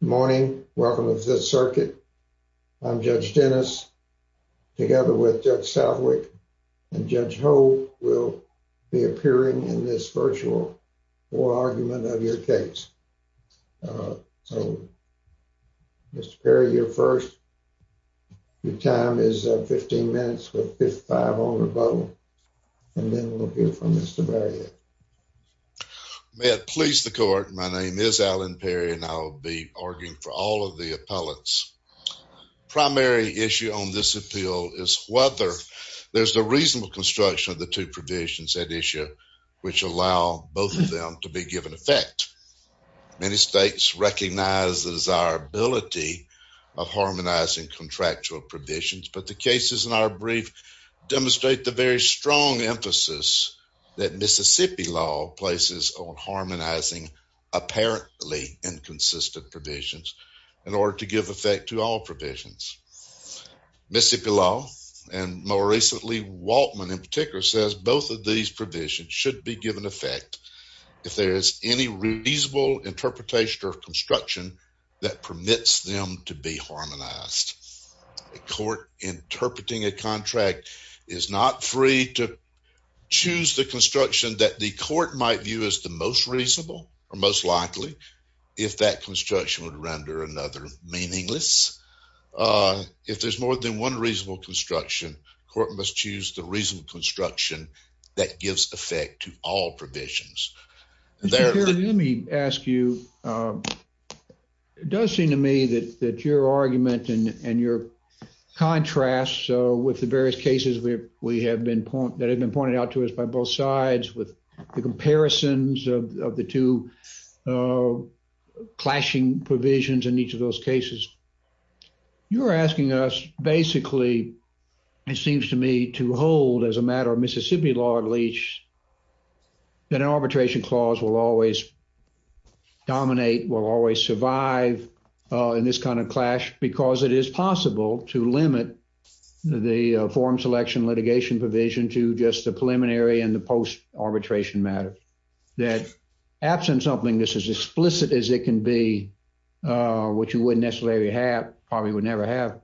Morning. Welcome to the circuit. I'm Judge Dennis, together with Judge Southwick and Judge Hope, will be appearing in this virtual oral argument of your case. So, Mr. Perry, you're first. Your time is 15 minutes with 55 on the button, and then we'll hear from Mr. Barrett. May it please the court, my name is Alan Perry, and I'll be arguing for all of the appellants. Primary issue on this appeal is whether there's a reasonable construction of the two provisions at issue which allow both of them to be given effect. Many states recognize the desirability of harmonizing contractual provisions, but the cases in our brief demonstrate the very strong emphasis that Mississippi law places on harmonizing apparently inconsistent provisions in order to give effect to all provisions. Mississippi law, and more recently Waltman in particular, says both of these provisions should be given effect if there is any reasonable interpretation or construction that permits them to be harmonized. A court interpreting a contract is not free to choose the construction that the court might view as the most reasonable or most likely if that construction would render another meaningless. If there's more than one reasonable construction, court must choose the reasonable construction that gives effect to all provisions. Mr. Perry, let me ask you, it does seem to me that your argument and your contrast with the various cases that have been pointed out to us by both sides, with the comparisons of the two clashing provisions in each of those cases, you're asking us basically, it seems to me, to hold as a matter of Mississippi law at least that an arbitration clause will always the forum selection litigation provision to just the preliminary and the post-arbitration matter. That absent something that's as explicit as it can be, which you wouldn't necessarily have, probably would never have,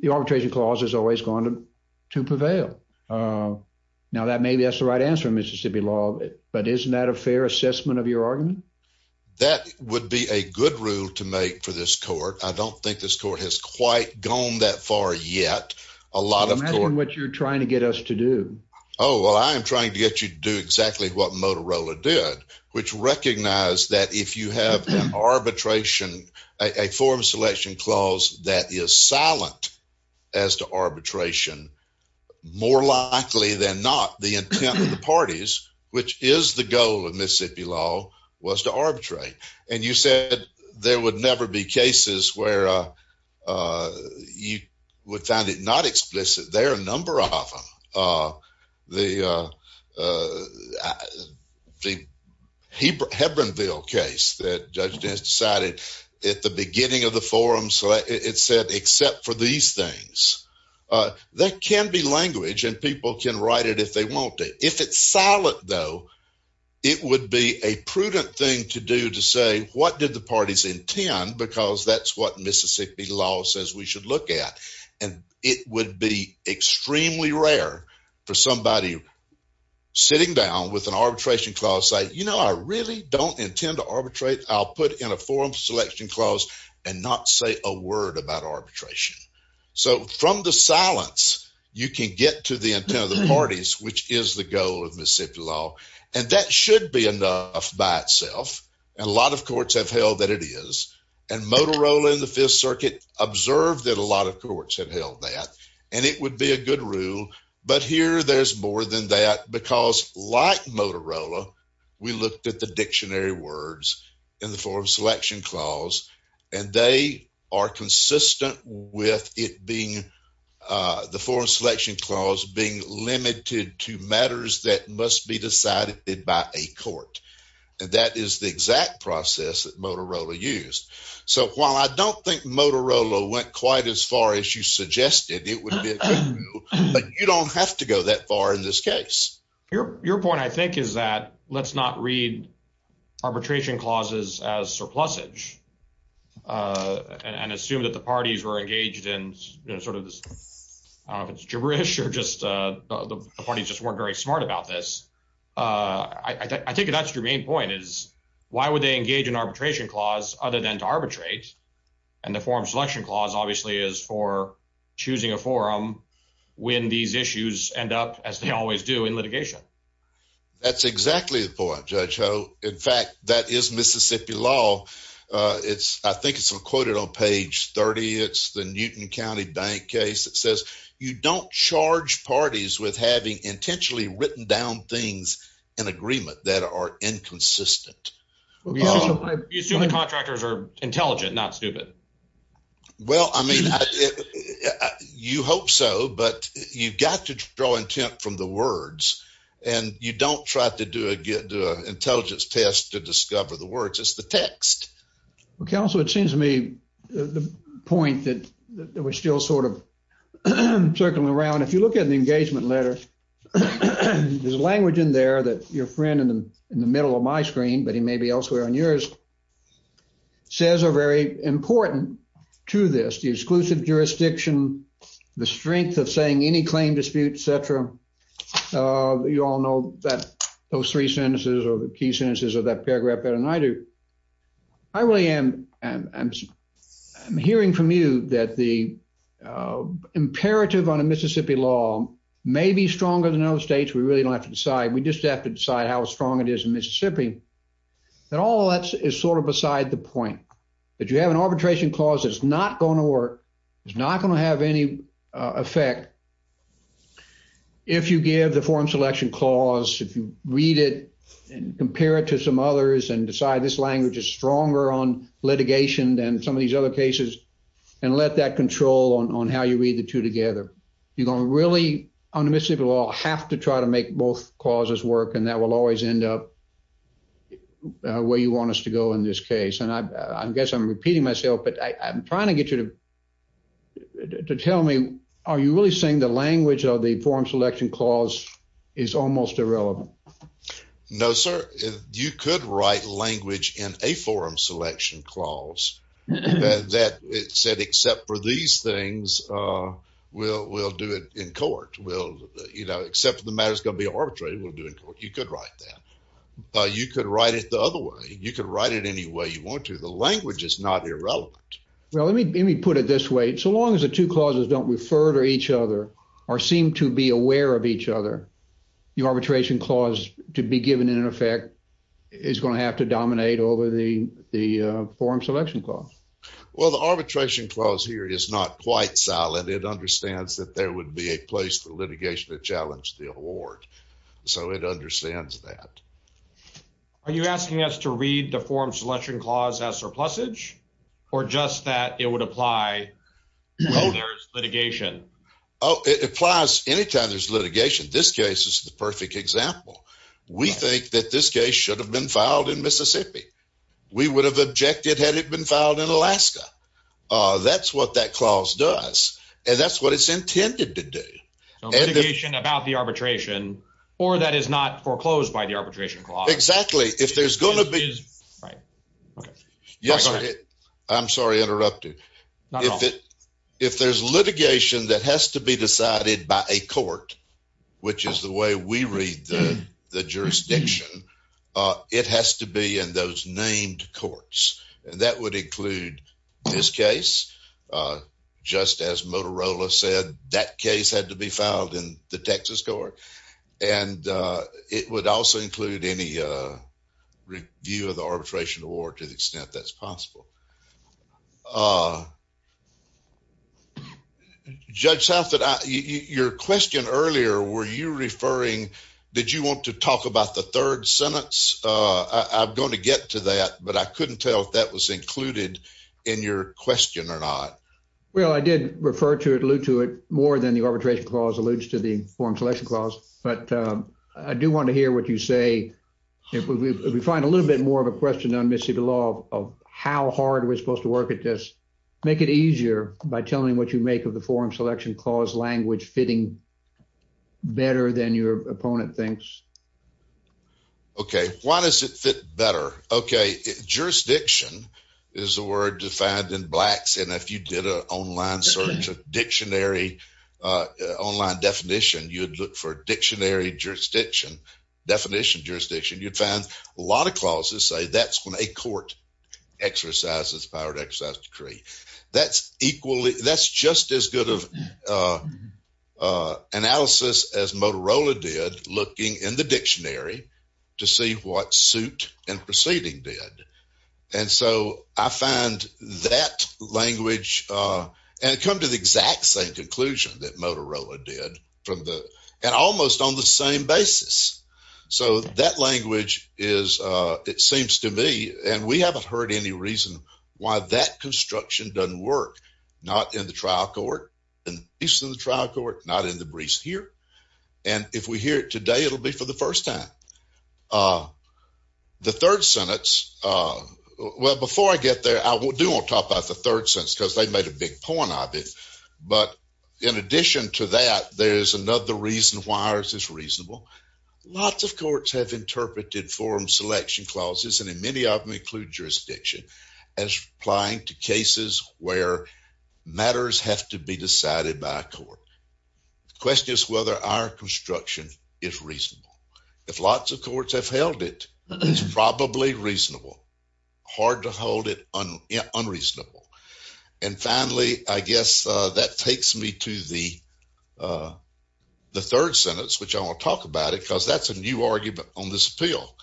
the arbitration clause has always gone to prevail. Now that maybe that's the right answer, Mississippi law, but isn't that a fair assessment of your argument? That would be a good rule to make for this court. I don't think this court has quite gone that far yet. I'm asking what you're trying to get us to do. Oh, well, I am trying to get you to do exactly what Motorola did, which recognized that if you have an arbitration, a forum selection clause that is silent as to arbitration, more likely than not, the intent of the parties, which is the goal of Mississippi law, was to arbitrate. And you said there would never be you would find it not explicit. There are a number of them. The Hebronville case that Judge Dennis decided at the beginning of the forum, so it said except for these things. That can be language and people can write it if they want to. If it's silent, though, it would be a prudent thing to do to say, what did the parties intend? Because that's what Mississippi law says we should look at. And it would be extremely rare for somebody sitting down with an arbitration clause, say, you know, I really don't intend to arbitrate. I'll put in a forum selection clause and not say a word about arbitration. So from the silence, you can get to the intent of the parties, which is the goal of Mississippi law. And that should be enough by itself. And a lot of courts have held that it is. And Motorola in the Fifth Circuit observed that a lot of courts have held that. And it would be a good rule. But here there's more than that. Because like Motorola, we looked at the dictionary words in the forum selection clause, and they are consistent with it being the forum selection clause being limited to matters that must be decided by a court. And that is the exact process that Motorola used. So while I don't think Motorola went quite as far as you suggested, it would be a good rule. But you don't have to go that far in this case. Your point, I think, is that let's not read arbitration clauses as surplusage and assume that the parties were engaged in sort of this, I don't know if it's gibberish or just the parties just weren't very smart about this. I think that's your main point is, why would they engage in arbitration clause other than to arbitrate? And the forum selection clause obviously is for choosing a forum when these issues end up as they always do in litigation. That's exactly the point, Judge Ho. In fact, that is Mississippi law. I think it's quoted on page 30. It's the Newton County bank case that says, you don't charge parties with having intentionally written down things in agreement that are inconsistent. You assume the contractors are intelligent, not stupid. Well, I mean, you hope so, but you've got to draw intent from the words, and you don't try to do an intelligence test to discover the words. It's the text. Well, counsel, it seems to me the point that we're still sort of circling around. If you look at the engagement letter, there's language in there that your friend in the middle of my screen, but he may be elsewhere on yours, says are very important to this, the exclusive jurisdiction, the strength of saying any claim dispute, et cetera. You all know that those three sentences are the key sentences of that paragraph better than I do. I really am hearing from you that the imperative on a Mississippi law may be stronger than other states. We really don't have to decide. We just have to decide how strong it is in Mississippi, that all that is sort of beside the point, that you have an arbitration clause that's not going to work. It's not going to have any effect if you give the form selection clause, if you read it and compare it to some others and decide this language is stronger on litigation than some of these other cases, and let that control on how you read the two together. You're going to really, under Mississippi law, have to try to make both clauses work, and that will always end up where you want us to go in this case. And I guess I'm repeating myself, but I'm trying to get you to tell me, are you really saying the language of the form selection clause is almost irrelevant? No, sir. You could write language in a forum selection clause that said, except for these things, we'll do it in court. You know, except the matter is going to be arbitrated, we'll do it in court. You could write that. You could write it the other way. You could write it any way you want to. The language is not irrelevant. Well, let me put it this way. So long as the two clauses don't refer to each other or seem to be aware of each other, the arbitration clause to be given, in effect, is going to have to dominate over the form selection clause. Well, the arbitration clause here is not quite silent. It understands that there would be a place for litigation to challenge the award. So it understands that. Are you asking us to read the form selection clause as surplusage, or just that it would apply when there's litigation? Oh, it applies anytime there's litigation. This case is the perfect example. We think that this case should have been filed in Mississippi. We would have objected had it been filed in Alaska. That's what that clause does, and that's what it's intended to do. Litigation about the arbitration, or that is not foreclosed by the arbitration clause. Exactly. If there's going to be... I'm sorry, interrupted. If there's litigation that has to be decided by a court, which is the way we read the this case, just as Motorola said, that case had to be filed in the Texas court, and it would also include any review of the arbitration award to the extent that's possible. Judge Southwood, your question earlier, were you referring... Did you want to talk about the third sentence? I'm going to get to that, but I couldn't tell if that was included in your question or not. Well, I did refer to it, allude to it more than the arbitration clause alludes to the form selection clause, but I do want to hear what you say. If we find a little bit more of a question on Mississippi law of how hard we're supposed to work at this, make it easier by telling me what you make of the form selection clause language fitting better than your opponent thinks. Okay, why does it fit better? Okay, jurisdiction is a word defined in Blacks, and if you did an online search of dictionary, online definition, you'd look for dictionary jurisdiction, definition jurisdiction, you'd find a lot of clauses say that's when a court exercises power to exercise decree. That's equally, that's just as good of analysis as Motorola did looking in the dictionary to see what suit and proceeding did, and so I find that language, and come to the exact same conclusion that Motorola did from the, and almost on the same basis. So that language is, it seems to me, and we haven't heard any reason why that construction doesn't work, not in the trial court, not in the briefs here, and if we hear it today, it'll be for the first time. The third sentence, well, before I get there, I do want to talk about the third sentence because they made a big point of it, but in addition to that, there's another reason why ours is reasonable. Lots of courts have interpreted forum selection clauses, and in many of them include jurisdiction, as applying to cases where matters have to be decided by a court. The question is whether our construction is reasonable. If lots of courts have held it, it's probably reasonable. Hard to hold it unreasonable, and finally, I guess that takes me to the third sentence, which I want to talk about it because that's a new argument on this appeal.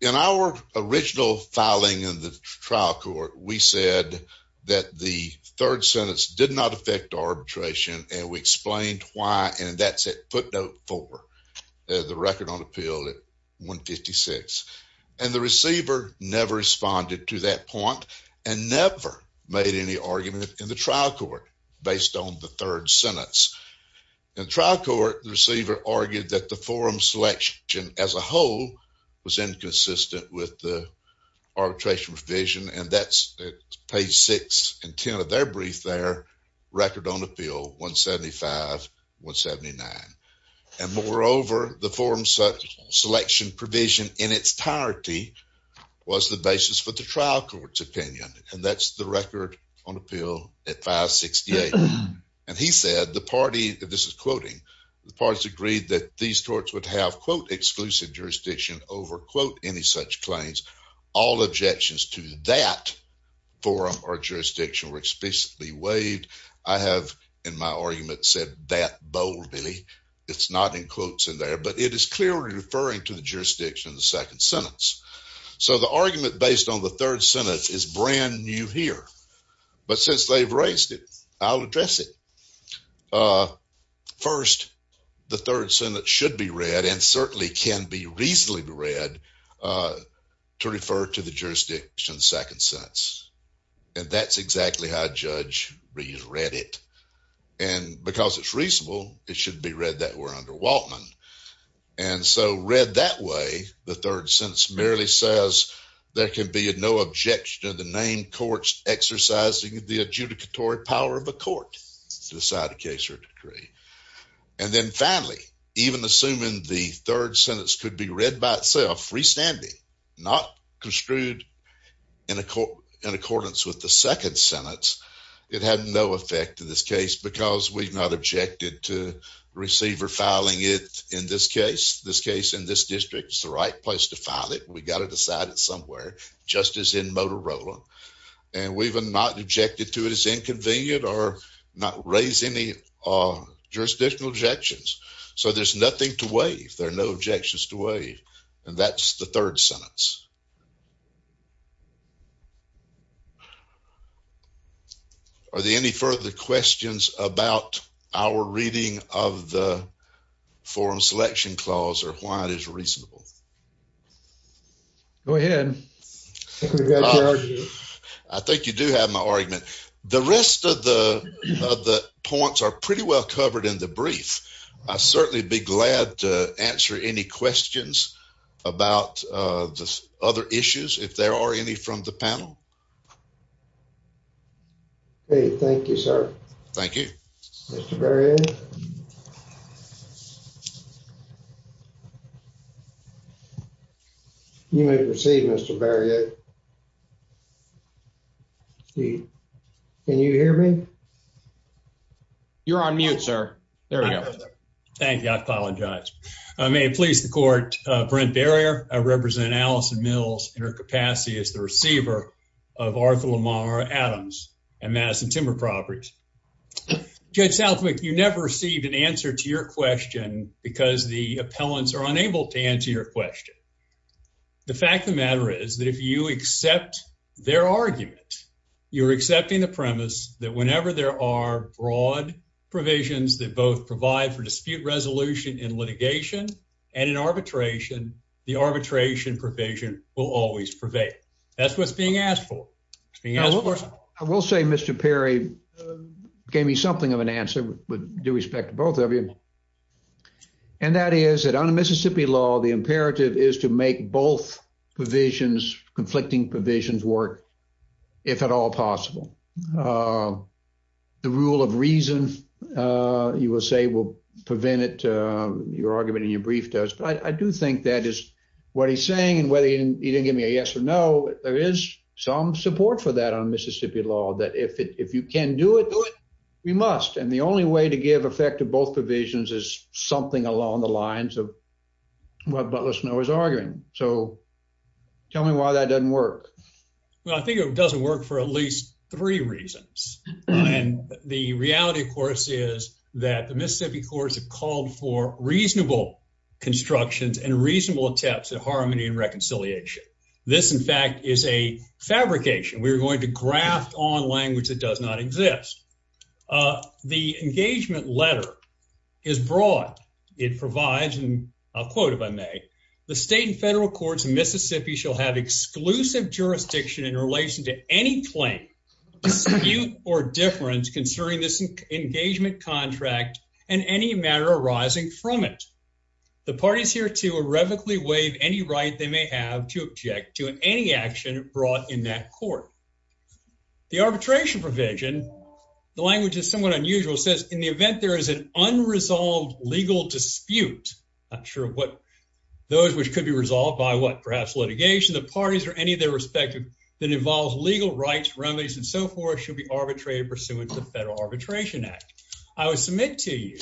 In our original filing in the trial court, we said that the third sentence did not affect arbitration, and we explained why, and that's at footnote four, the record on appeal at 156, and the receiver never responded to that point and never made any argument in the trial court based on the third sentence. In trial court, the receiver argued that the forum selection as a whole was inconsistent with the arbitration provision, and that's at page six and ten of their record on appeal, 175, 179, and moreover, the forum selection provision in its entirety was the basis for the trial court's opinion, and that's the record on appeal at 568, and he said the party, this is quoting, the parties agreed that these courts would have quote exclusive jurisdiction over quote any such claims. All objections to that forum or jurisdiction were explicitly waived. I have, in my argument, said that boldly. It's not in quotes in there, but it is clearly referring to the jurisdiction in the second sentence, so the argument based on the third sentence is brand new here, but since they've raised it, I'll address it. First, the third sentence should be read and certainly can be second sentence, and that's exactly how a judge read it, and because it's reasonable, it should be read that way under Waltman, and so read that way, the third sentence merely says there can be no objection to the name courts exercising the adjudicatory power of a court to decide a case or decree, and then finally, even assuming the third sentence could be read by freestanding, not construed in accordance with the second sentence, it had no effect in this case because we've not objected to receiver filing it in this case. This case in this district is the right place to file it. We've got to decide it somewhere, just as in Motorola, and we've not objected to it as inconvenient or not raised any jurisdictional objections, so there's nothing to and that's the third sentence. Are there any further questions about our reading of the forum selection clause or why it is reasonable? Go ahead. I think you do have my argument. The rest of the points are pretty well covered in the brief. I'd certainly be glad to answer any questions about the other issues if there are any from the panel. Okay, thank you, sir. Thank you. You may proceed, Mr. Barriott. Can you hear me? You're on mute, sir. There we go. Thank you. I apologize. I may please the court, Brent Barriott. I represent Allison Mills in her capacity as the receiver of Arthur Lamar Adams and Madison Timber Properties. Judge Southwick, you never received an answer to your question because the appellants are unable to answer your question. The fact of the matter is that if you accept their argument, you're accepting the premise that whenever there are broad provisions that both provide for dispute resolution in litigation and in arbitration, the arbitration provision will always prevail. That's what's being asked for. I will say, Mr. Perry gave me something of an answer with due respect to both of you, and that is that under Mississippi law, the imperative is to make both conflicting provisions work, if at all possible. The rule of reason, you will say, will prevent it, your argument in your brief does. But I do think that is what he's saying, and whether he didn't give me a yes or no, there is some support for that on Mississippi law, that if you can do it, do it. We must. And the only way to give effect to both provisions is something along the lines of what Butler Snow is arguing. So tell me why that doesn't work. Well, I think it doesn't work for at least three reasons. And the reality, of course, is that the Mississippi courts have called for reasonable constructions and reasonable attempts at harmony and reconciliation. This, in fact, is a fabrication. We're going to graft on language that does not The state and federal courts in Mississippi shall have exclusive jurisdiction in relation to any claim, dispute, or difference concerning this engagement contract and any matter arising from it. The parties hereto irrevocably waive any right they may have to object to any action brought in that court. The arbitration provision, the language is somewhat unusual, says in the Those which could be resolved by what perhaps litigation, the parties, or any of their respective that involves legal rights, remedies, and so forth, should be arbitrated pursuant to the Federal Arbitration Act. I would submit to you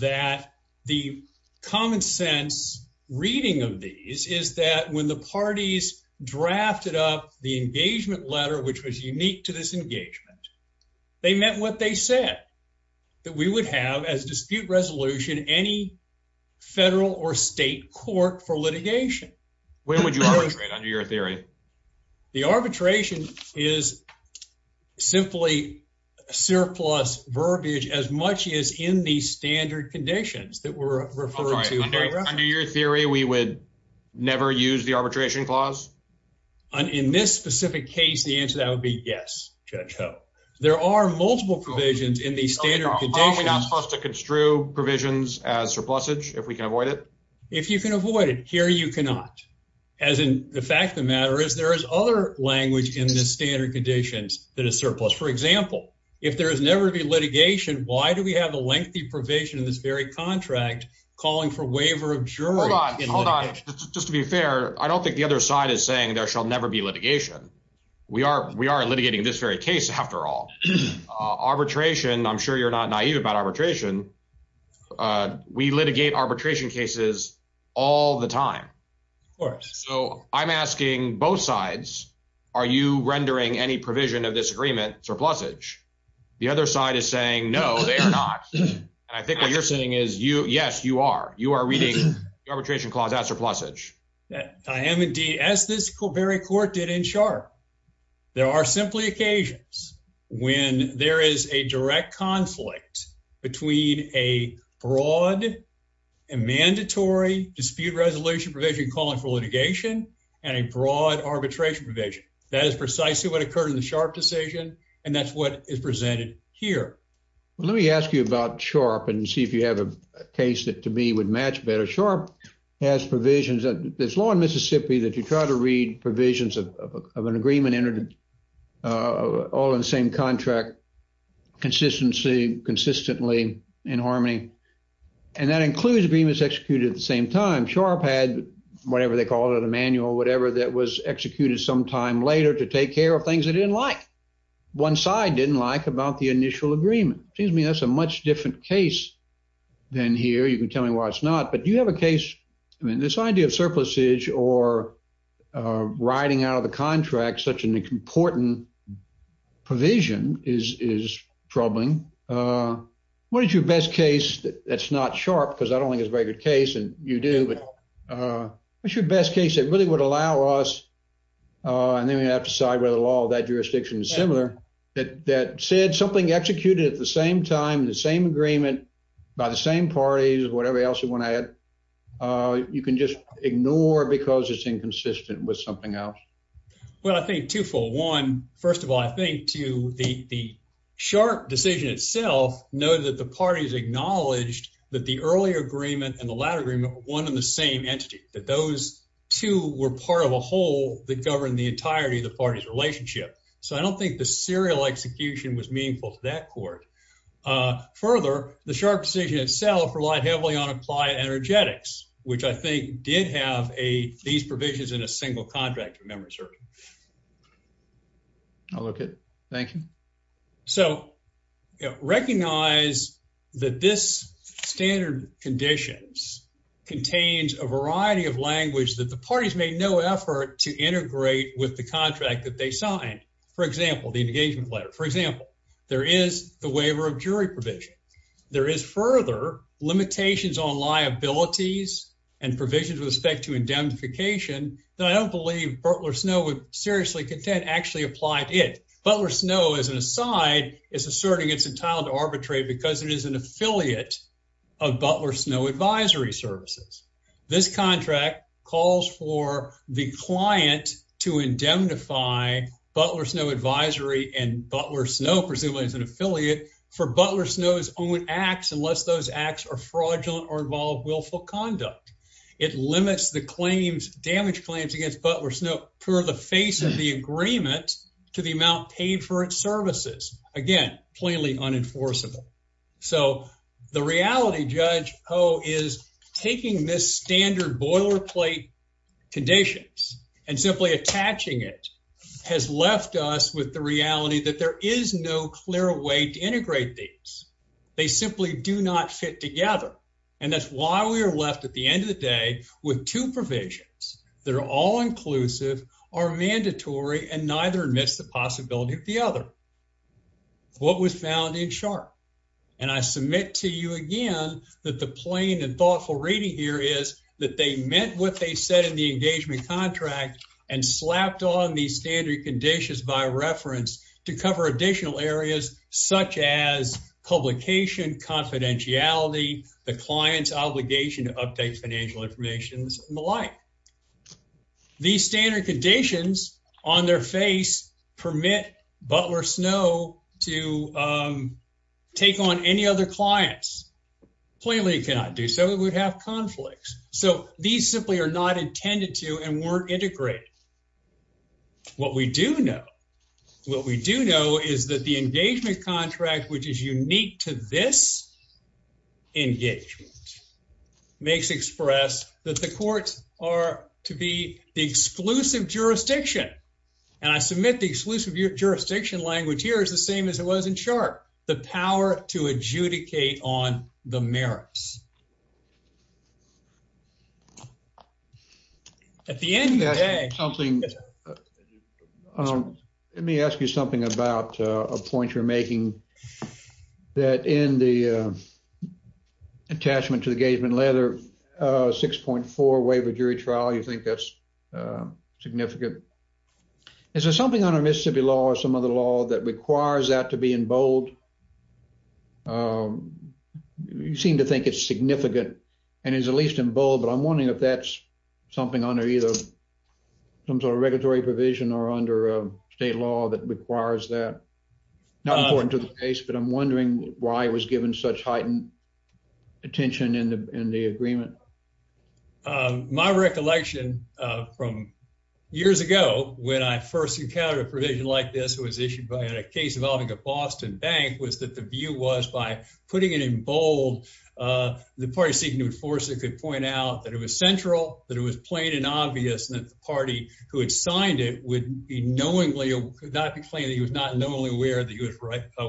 that the common sense reading of these is that when the parties drafted up the engagement letter, which was unique to this engagement, they meant what they said, that we would have as dispute resolution any federal or state court for litigation. Where would you arbitrate under your theory? The arbitration is simply surplus verbiage as much as in the standard conditions that were referred to. Under your theory, we would never use the arbitration clause? In this specific case, the answer that would be yes, Judge Ho. There are multiple provisions in the standard conditions. Are we not supposed to construe provisions as surplusage if we can avoid it? If you can avoid it, here you cannot. As in, the fact of the matter is there is other language in the standard conditions that is surplus. For example, if there is never to be litigation, why do we have a lengthy provision in this very contract calling for waiver of jury? Hold on, hold on. Just to be fair, I don't think the other side is saying there shall never be litigation. We are litigating this very case after all. Arbitration, I'm sure you're not naive about arbitration. We litigate arbitration cases all the time. So I'm asking both sides, are you rendering any provision of this agreement surplusage? The other side is saying no, they are not. And I think what you're saying is yes, you are reading the arbitration clause as surplusage. I am indeed, as this very court did in Sharp. There are simply occasions when there is a direct conflict between a broad and mandatory dispute resolution provision calling for litigation and a broad arbitration provision. That is precisely what occurred in the Sharp decision, and that's what is presented here. Let me ask you about Sharp and see if you have a case that to me would match better. Sharp has provisions, there's law in Mississippi that you try to read provisions of an agreement entered all in the same contract, consistency, consistently, in harmony. And that includes agreements executed at the same time. Sharp had whatever they called it, a manual, whatever that was executed sometime later to take care of things it didn't like. One side didn't like about the different case than here. You can tell me why it's not, but do you have a case, I mean, this idea of surplusage or writing out of the contract such an important provision is troubling. What is your best case that's not Sharp, because I don't think it's a very good case and you do, but what's your best case that really would allow us, and then we have to decide whether the law of that agreement by the same parties, whatever else you want to add, you can just ignore because it's inconsistent with something else? Well, I think twofold. One, first of all, I think to the Sharp decision itself noted that the parties acknowledged that the earlier agreement and the latter agreement were one and the same entity, that those two were part of a whole that governed the entirety of the relationship. So I don't think the serial execution was meaningful to that court. Further, the Sharp decision itself relied heavily on applied energetics, which I think did have these provisions in a single contract, if memory serves. Okay, thank you. So recognize that this standard conditions contains a variety of language that parties made no effort to integrate with the contract that they signed. For example, the engagement letter. For example, there is the waiver of jury provision. There is further limitations on liabilities and provisions with respect to indemnification that I don't believe Butler Snow would seriously contend actually applied it. Butler Snow, as an aside, is asserting it's entitled to arbitrate because it is an affiliate of Butler Snow Advisory Services. This contract calls for the client to indemnify Butler Snow Advisory and Butler Snow, presumably as an affiliate, for Butler Snow's own acts unless those acts are fraudulent or involve willful conduct. It limits the claims, damage claims, against Butler Snow per the face of the agreement to the amount paid for its services. Again, plainly unenforceable. So the reality, Judge this standard boilerplate conditions and simply attaching it has left us with the reality that there is no clear way to integrate these. They simply do not fit together, and that's why we are left at the end of the day with two provisions that are all inclusive, are mandatory, and neither admits the possibility of the other. What was found in Sharp? And I submit to you again that the plain and thoughtful reading here is that they meant what they said in the engagement contract and slapped on these standard conditions by reference to cover additional areas such as publication, confidentiality, the client's obligation to update financial information, and the like. These standard conditions on their face permit Butler Snow to take on any other clients. Plainly cannot do so. It would have conflicts. So these simply are not intended to and weren't integrated. What we do know, what we do know is that the engagement contract, which is unique to this engagement, makes express that the courts are to be the exclusive jurisdiction, and I submit the exclusive jurisdiction language here is the same as it was in Sharp, the power to adjudicate on the merits. At the end of the day, something, let me ask you something about a point you're making that in the attachment to the engagement letter, 6.4 waiver jury trial, you think that's significant. Is there something on our Mississippi law or some other law that requires that to be bold? You seem to think it's significant and is at least in bold, but I'm wondering if that's something under either some sort of regulatory provision or under state law that requires that not important to the case, but I'm wondering why it was given such heightened attention in the agreement. My recollection from years ago when I first encountered a provision like this, it was issued by a case involving a Boston bank, was that the view was by putting it in bold, the party seeking to enforce it could point out that it was central, that it was plain and obvious, and that the party who had signed it would be knowingly, could not be claiming that he was not knowingly aware that he was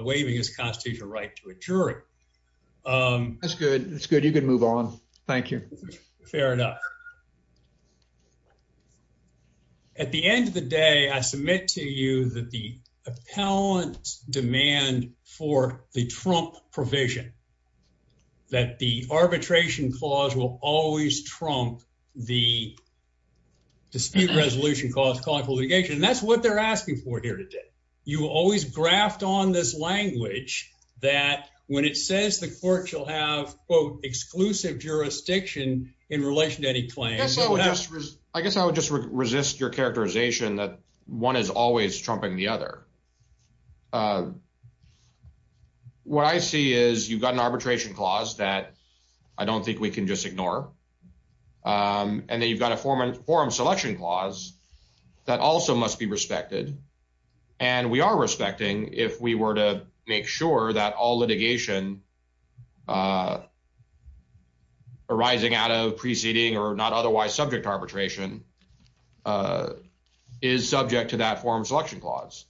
waiving his constitutional right to a jury. That's good. That's good. You can move on. Thank you. Fair enough. At the end of the day, I submit to you that the appellant's demand for the Trump provision, that the arbitration clause will always trump the dispute resolution clause calling for litigation, that's what they're asking for here today. You always graft on this language that when it says the court shall have, quote, exclusive jurisdiction in relation to any claim. I guess I would just resist your characterization that one is always trumping the other. What I see is you've got an arbitration clause that I don't think we can just ignore. And then you've got a forum selection clause that also must be respected. And we are respecting if we were to make sure that all litigation arising out of preceding or not otherwise subject arbitration is subject to that forum selection clause.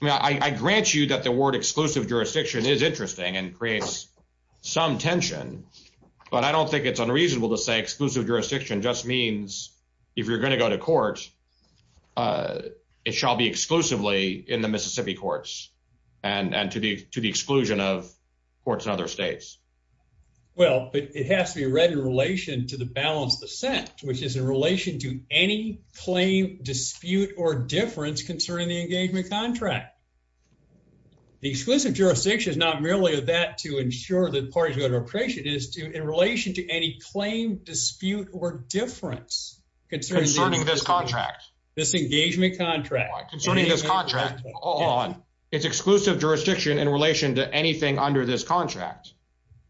I grant you that the word exclusive jurisdiction is interesting and creates some tension. But I don't think it's unreasonable to say exclusive jurisdiction just means if you're going to go to court, it shall be exclusively in the Mississippi courts and to the exclusion of courts in other states. Well, but it has to be read in relation to the balance of dissent, which is in relation to any claim, dispute, or difference concerning the engagement contract. The exclusive jurisdiction is not merely that to ensure that parties go to arbitration, it is in relation to any claim, dispute, or difference concerning this contract, this engagement contract. It's exclusive jurisdiction in relation to anything under this contract.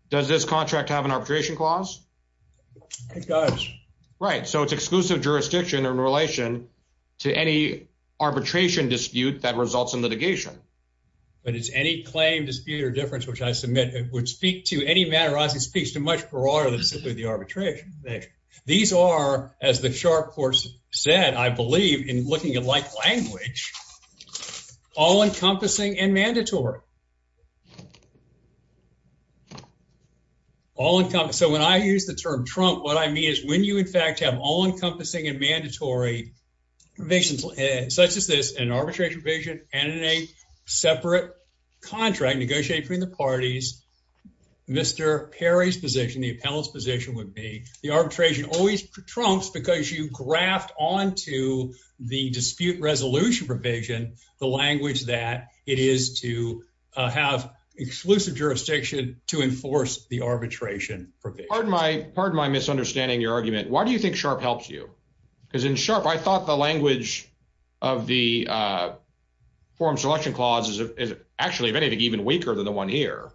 Does this contract have an arbitration clause? It does. Right, so it's exclusive jurisdiction in relation to any arbitration dispute that results in litigation. But it's any claim, dispute, or difference, which I submit would speak to any matter as it speaks to much broader than simply the arbitration provision. These are, as the sharp court said, I believe, in looking at like language, all-encompassing and mandatory. All-encompassing, so when I use the term Trump, what I mean is when you in fact have all-encompassing and mandatory provisions such as this, an arbitration provision and in a the appellate's position would be the arbitration always trumps because you graft onto the dispute resolution provision the language that it is to have exclusive jurisdiction to enforce the arbitration provision. Pardon my misunderstanding your argument. Why do you think SHARP helps you? Because in SHARP, I thought the language of the forum selection clause is actually, if anything, even weaker than the one here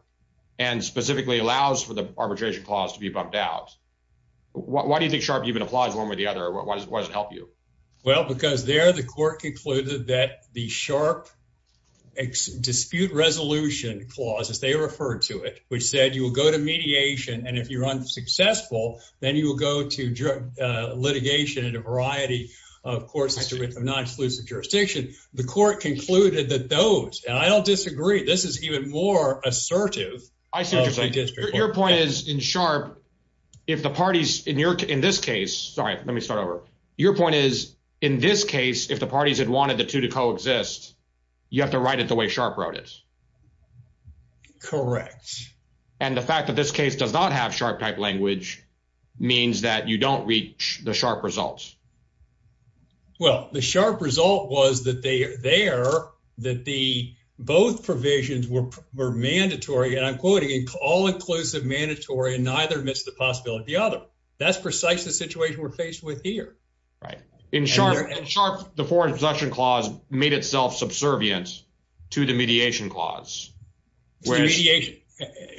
and specifically allows for the arbitration clause to be bumped out. Why do you think SHARP even applies one way or the other? Why does it help you? Well, because there the court concluded that the SHARP dispute resolution clause, as they referred to it, which said you will go to mediation and if you're unsuccessful then you will go to litigation in a variety of courts with a non-exclusive jurisdiction. The court concluded that those, and I don't disagree, this is even more assertive. I see what you're saying. Your point is in SHARP, if the parties in this case, sorry let me start over, your point is in this case if the parties had wanted the two to coexist you have to write it the way SHARP wrote it. Correct. And the fact that this case does not have SHARP type language means that you don't reach the SHARP results. Well, the SHARP result was that they are there, that the both provisions were mandatory, and I'm quoting, all-inclusive mandatory and neither admits the possibility of the other. That's precisely the situation we're faced with here. Right. In SHARP, the foreign selection clause made itself subservient to the mediation clause. It's the mediation.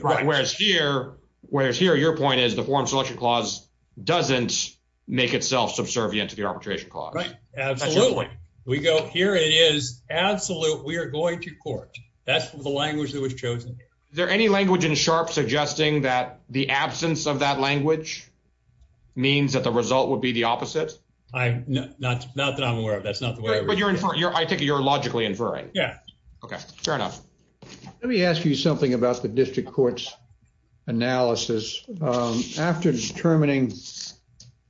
Whereas here, your point is the foreign selection clause doesn't make itself subservient to the arbitration clause. Right. Absolutely. We go, here it is. Absolute. We are going to court. That's the language that was chosen. Is there any language in SHARP suggesting that the absence of that language means that the result would be the opposite? Not that I'm aware of. That's not the way. But you're inferring. I take it you're logically inferring. Yeah. Okay, fair enough. Let me ask you something about the district court's analysis. After determining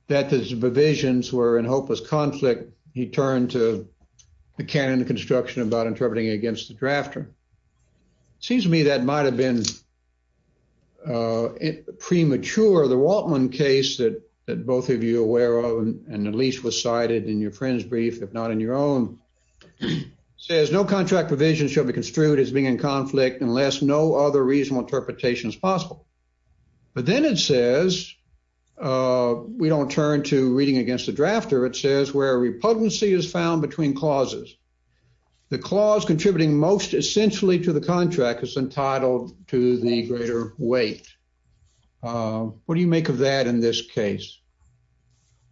that the provisions were in hopeless conflict, he turned to the canon of construction about interpreting against the drafter. Seems to me that might have been premature. The Waltman case that both of you are aware of, and at least was cited in your friend's brief, if not in your own, says no contract provision shall be construed as being in conflict unless no other reasonable interpretation is possible. But then it says, we don't turn to reading against the drafter, it says where a repudency is found between clauses. The clause contributing most essentially to the contract is entitled to the greater weight. What do you make of that in this case?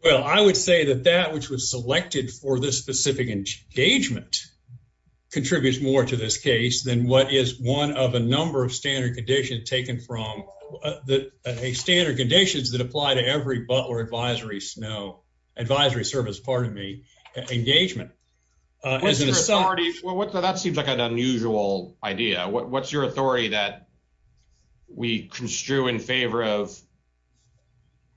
Well, I would say that that which was selected for this specific engagement contributes more to this case than what is one of a number of standard conditions taken from the standard conditions that apply to every Butler advisory snow advisory service, pardon me, engagement. Well, that seems like an unusual idea. What's your authority that we construe in favor of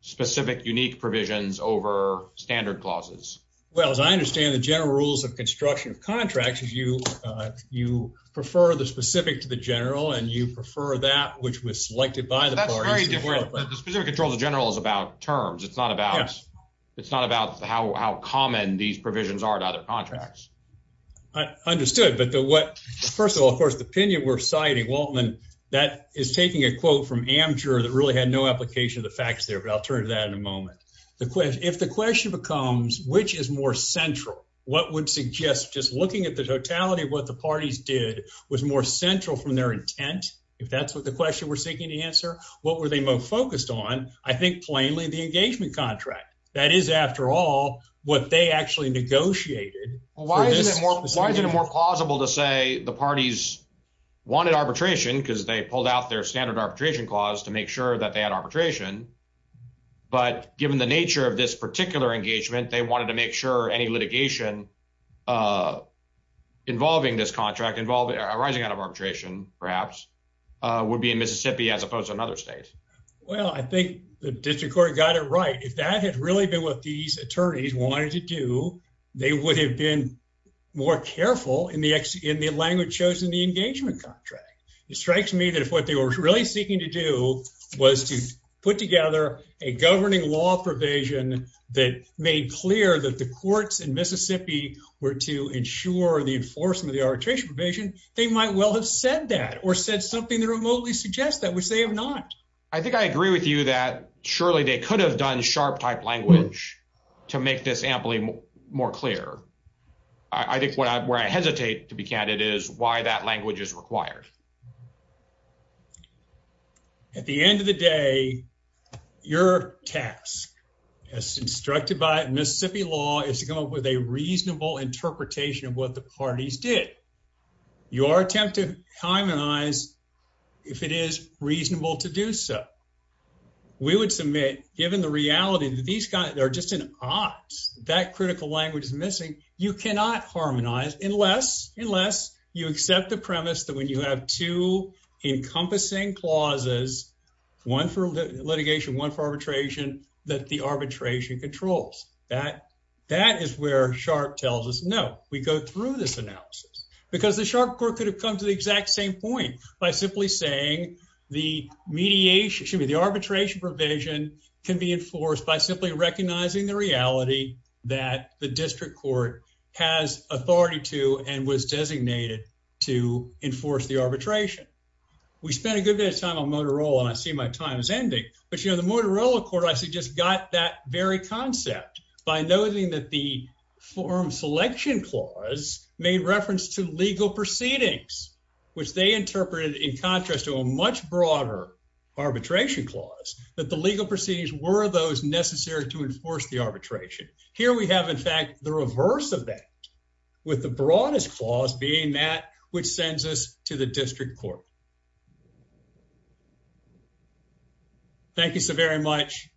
specific unique provisions over standard clauses? Well, as I understand the general rules of construction of contracts is you prefer the specific to the general and you prefer that which was selected by the parties. That's very different. The specific control of the general is about terms. It's not about how common these provisions are to other contracts. I understood. But first of all, of course, the opinion we're citing, Waltman, that is taking a quote from Amjur that really had no application of the facts there, but I'll turn to that in a moment. If the question becomes which is more central, what would suggest just looking at the totality of what the parties did was more central from their intent, if that's what the question we're seeking to answer, what were they most focused on? I think plainly the engagement contract. That is, after all, what they actually negotiated. Why is it more plausible to say the parties wanted arbitration because they pulled out their standard arbitration clause to make sure that they had arbitration? But given the nature of this particular engagement, they wanted to make sure any litigation involving this contract, arising out of arbitration, perhaps, would be in Mississippi as opposed to another state. Well, I think the district court got it right. If that had really been what these attorneys wanted to do, they would have been more careful in the language chosen in the engagement contract. It strikes me that if what they were really seeking to do was to put together a governing law provision that made clear that the courts in Mississippi were to ensure the enforcement of the arbitration provision, they might well have said that or said something that remotely suggests that, which they have not. I think I agree with you that surely they could have done sharp type language to make this amply more clear. I think where I hesitate to be candid is why that language is required. At the end of the day, your task, as instructed by Mississippi law, is to come up with a reasonable interpretation of what the parties did. Your given the reality that these guys are just in odds, that critical language is missing. You cannot harmonize unless you accept the premise that when you have two encompassing clauses, one for litigation, one for arbitration, that the arbitration controls. That is where sharp tells us, no, we go through this analysis. Because the sharp court could have come to the exact same point by simply saying the arbitration provision can be enforced by simply recognizing the reality that the district court has authority to and was designated to enforce the arbitration. We spent a good bit of time on Motorola, and I see my time is ending. But the Motorola court, I suggest, got that very concept by noting that the forum selection clause made reference to in contrast to a much broader arbitration clause that the legal proceedings were those necessary to enforce the arbitration. Here we have, in fact, the reverse of that with the broadest clause being that which sends us to the district court. Thank you so very much.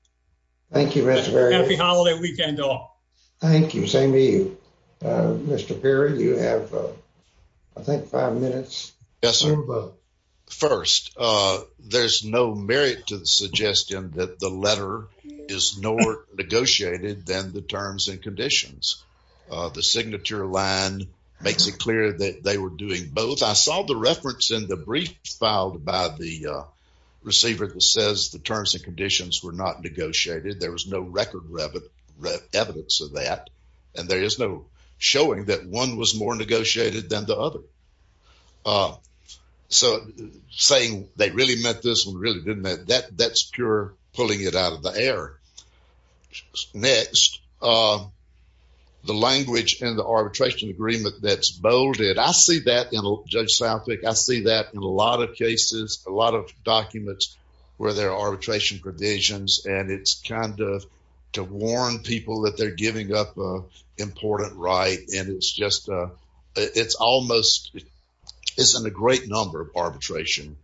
Thank you, Mr. Berry. Happy holiday weekend all. Thank you. Same to you. Mr. Berry, you have, I think, five minutes. Yes, sir. First, there's no merit to the suggestion that the letter is nor negotiated than the terms and conditions. The signature line makes it clear that they were doing both. I saw the reference in the brief filed by the receiver that says the terms and conditions were not negotiated. There was no record evidence of that. And there is no showing that one was more negotiated than the other. So saying they really meant this and really didn't, that's pure pulling it out of the air. Next, the language in the arbitration agreement that's bolded, I see that in Judge Southwick. I see that in a lot of cases, a lot of documents where there are arbitration provisions, and it's kind of to warn people that they're giving up an important right, and it's just, it's almost, it's in a great number of arbitration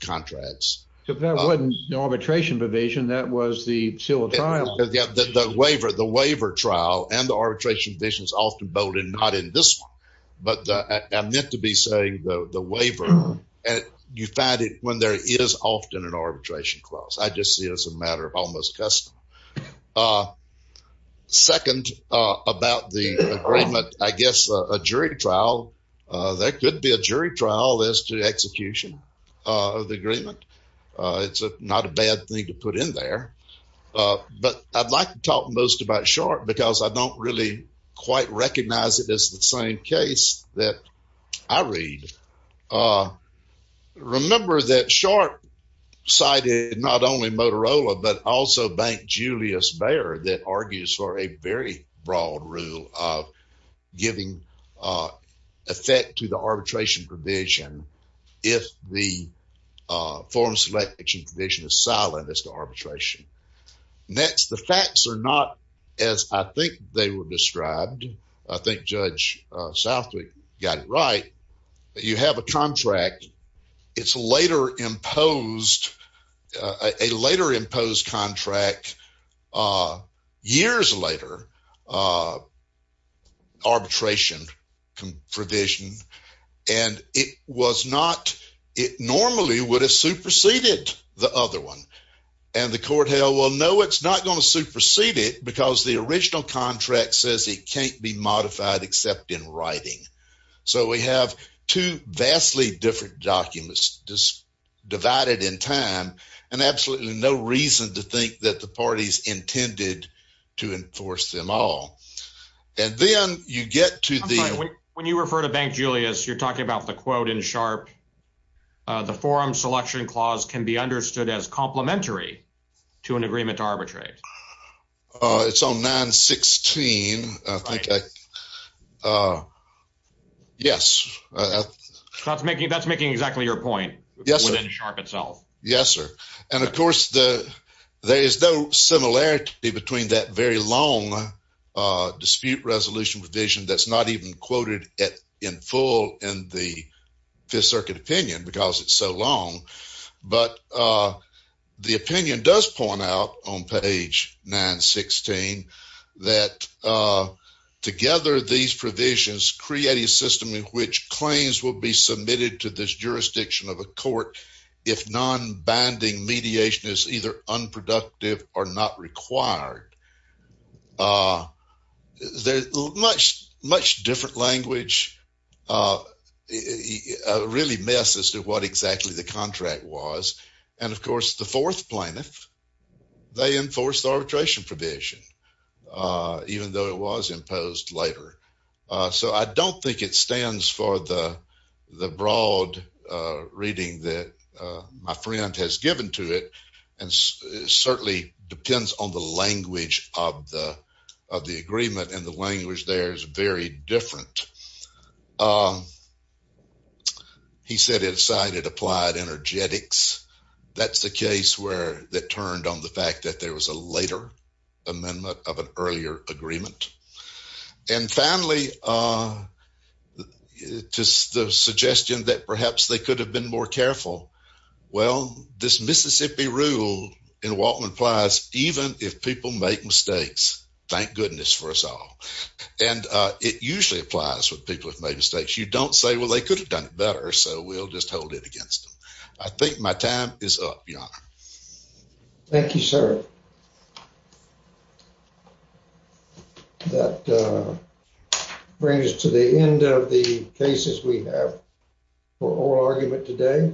contracts. If that wasn't an arbitration provision, that was the seal of trial. Yeah, the waiver, the waiver trial and the arbitration provision is often bolded, not in this one. But I meant to be saying the waiver, and you find it when there is often an arbitration clause. I just see it as a matter of almost custom. Second, about the agreement, I guess a jury trial, there could be a jury trial as to the execution of the agreement. It's not a bad thing to put in there. But I'd like to talk most about Sharp because I don't really quite recognize it as the same case that I read. Remember that Sharp cited not only Motorola, but also Bank Julius Bayer that argues for a very broad rule of giving effect to the arbitration provision if the form selection provision is silent as to arbitration. Next, the facts are not as I think they were described. I think Judge Southwick got it right. You have a contract, it's later imposed, a later imposed contract, years later, arbitration provision, and it was not, it normally would have superseded the other one. And the court held, well, no, it's not going to supersede it because the original contract says it can't be modified except in writing. So we have two vastly different documents divided in time and absolutely no reason to think that the parties intended to enforce them all. And then you get to the- When you refer to Bank Julius, you're talking about the quote in Sharp, the forum selection clause can be understood as complementary to an agreement to arbitrate. Uh, it's on 916. I think I, uh, yes. That's making, that's making exactly your point. Yes, sir. Within Sharp itself. Yes, sir. And of course, the, there is no similarity between that very long dispute resolution provision that's not even quoted in full in the Fifth Circuit opinion because it's so long. But, uh, the opinion does point out on page 916 that, uh, together these provisions create a system in which claims will be submitted to this jurisdiction of a court if non-binding mediation is either unproductive or not required. Uh, there's much, much different language, uh, uh, really messes to what exactly the contract was. And of course, the fourth plaintiff, they enforce the arbitration provision, uh, even though it was imposed later. Uh, so I don't think it stands for the, the broad, uh, reading that, uh, my friend has given to it. And certainly depends on the language of the, of the agreement and the language there is very different. Um, he said it cited applied energetics. That's the case where that turned on the fact that there was a later amendment of an earlier agreement. And finally, uh, just the suggestion that perhaps they could have been more careful. Well, this Mississippi rule in Waltman applies even if people make mistakes, thank goodness for us all. And, uh, it usually applies when people have made mistakes. You don't say, well, they could have done it better. So we'll just hold it against them. I think my time is up, your honor. Thank you, sir. That, uh, brings us to the end of the cases we have for oral argument today.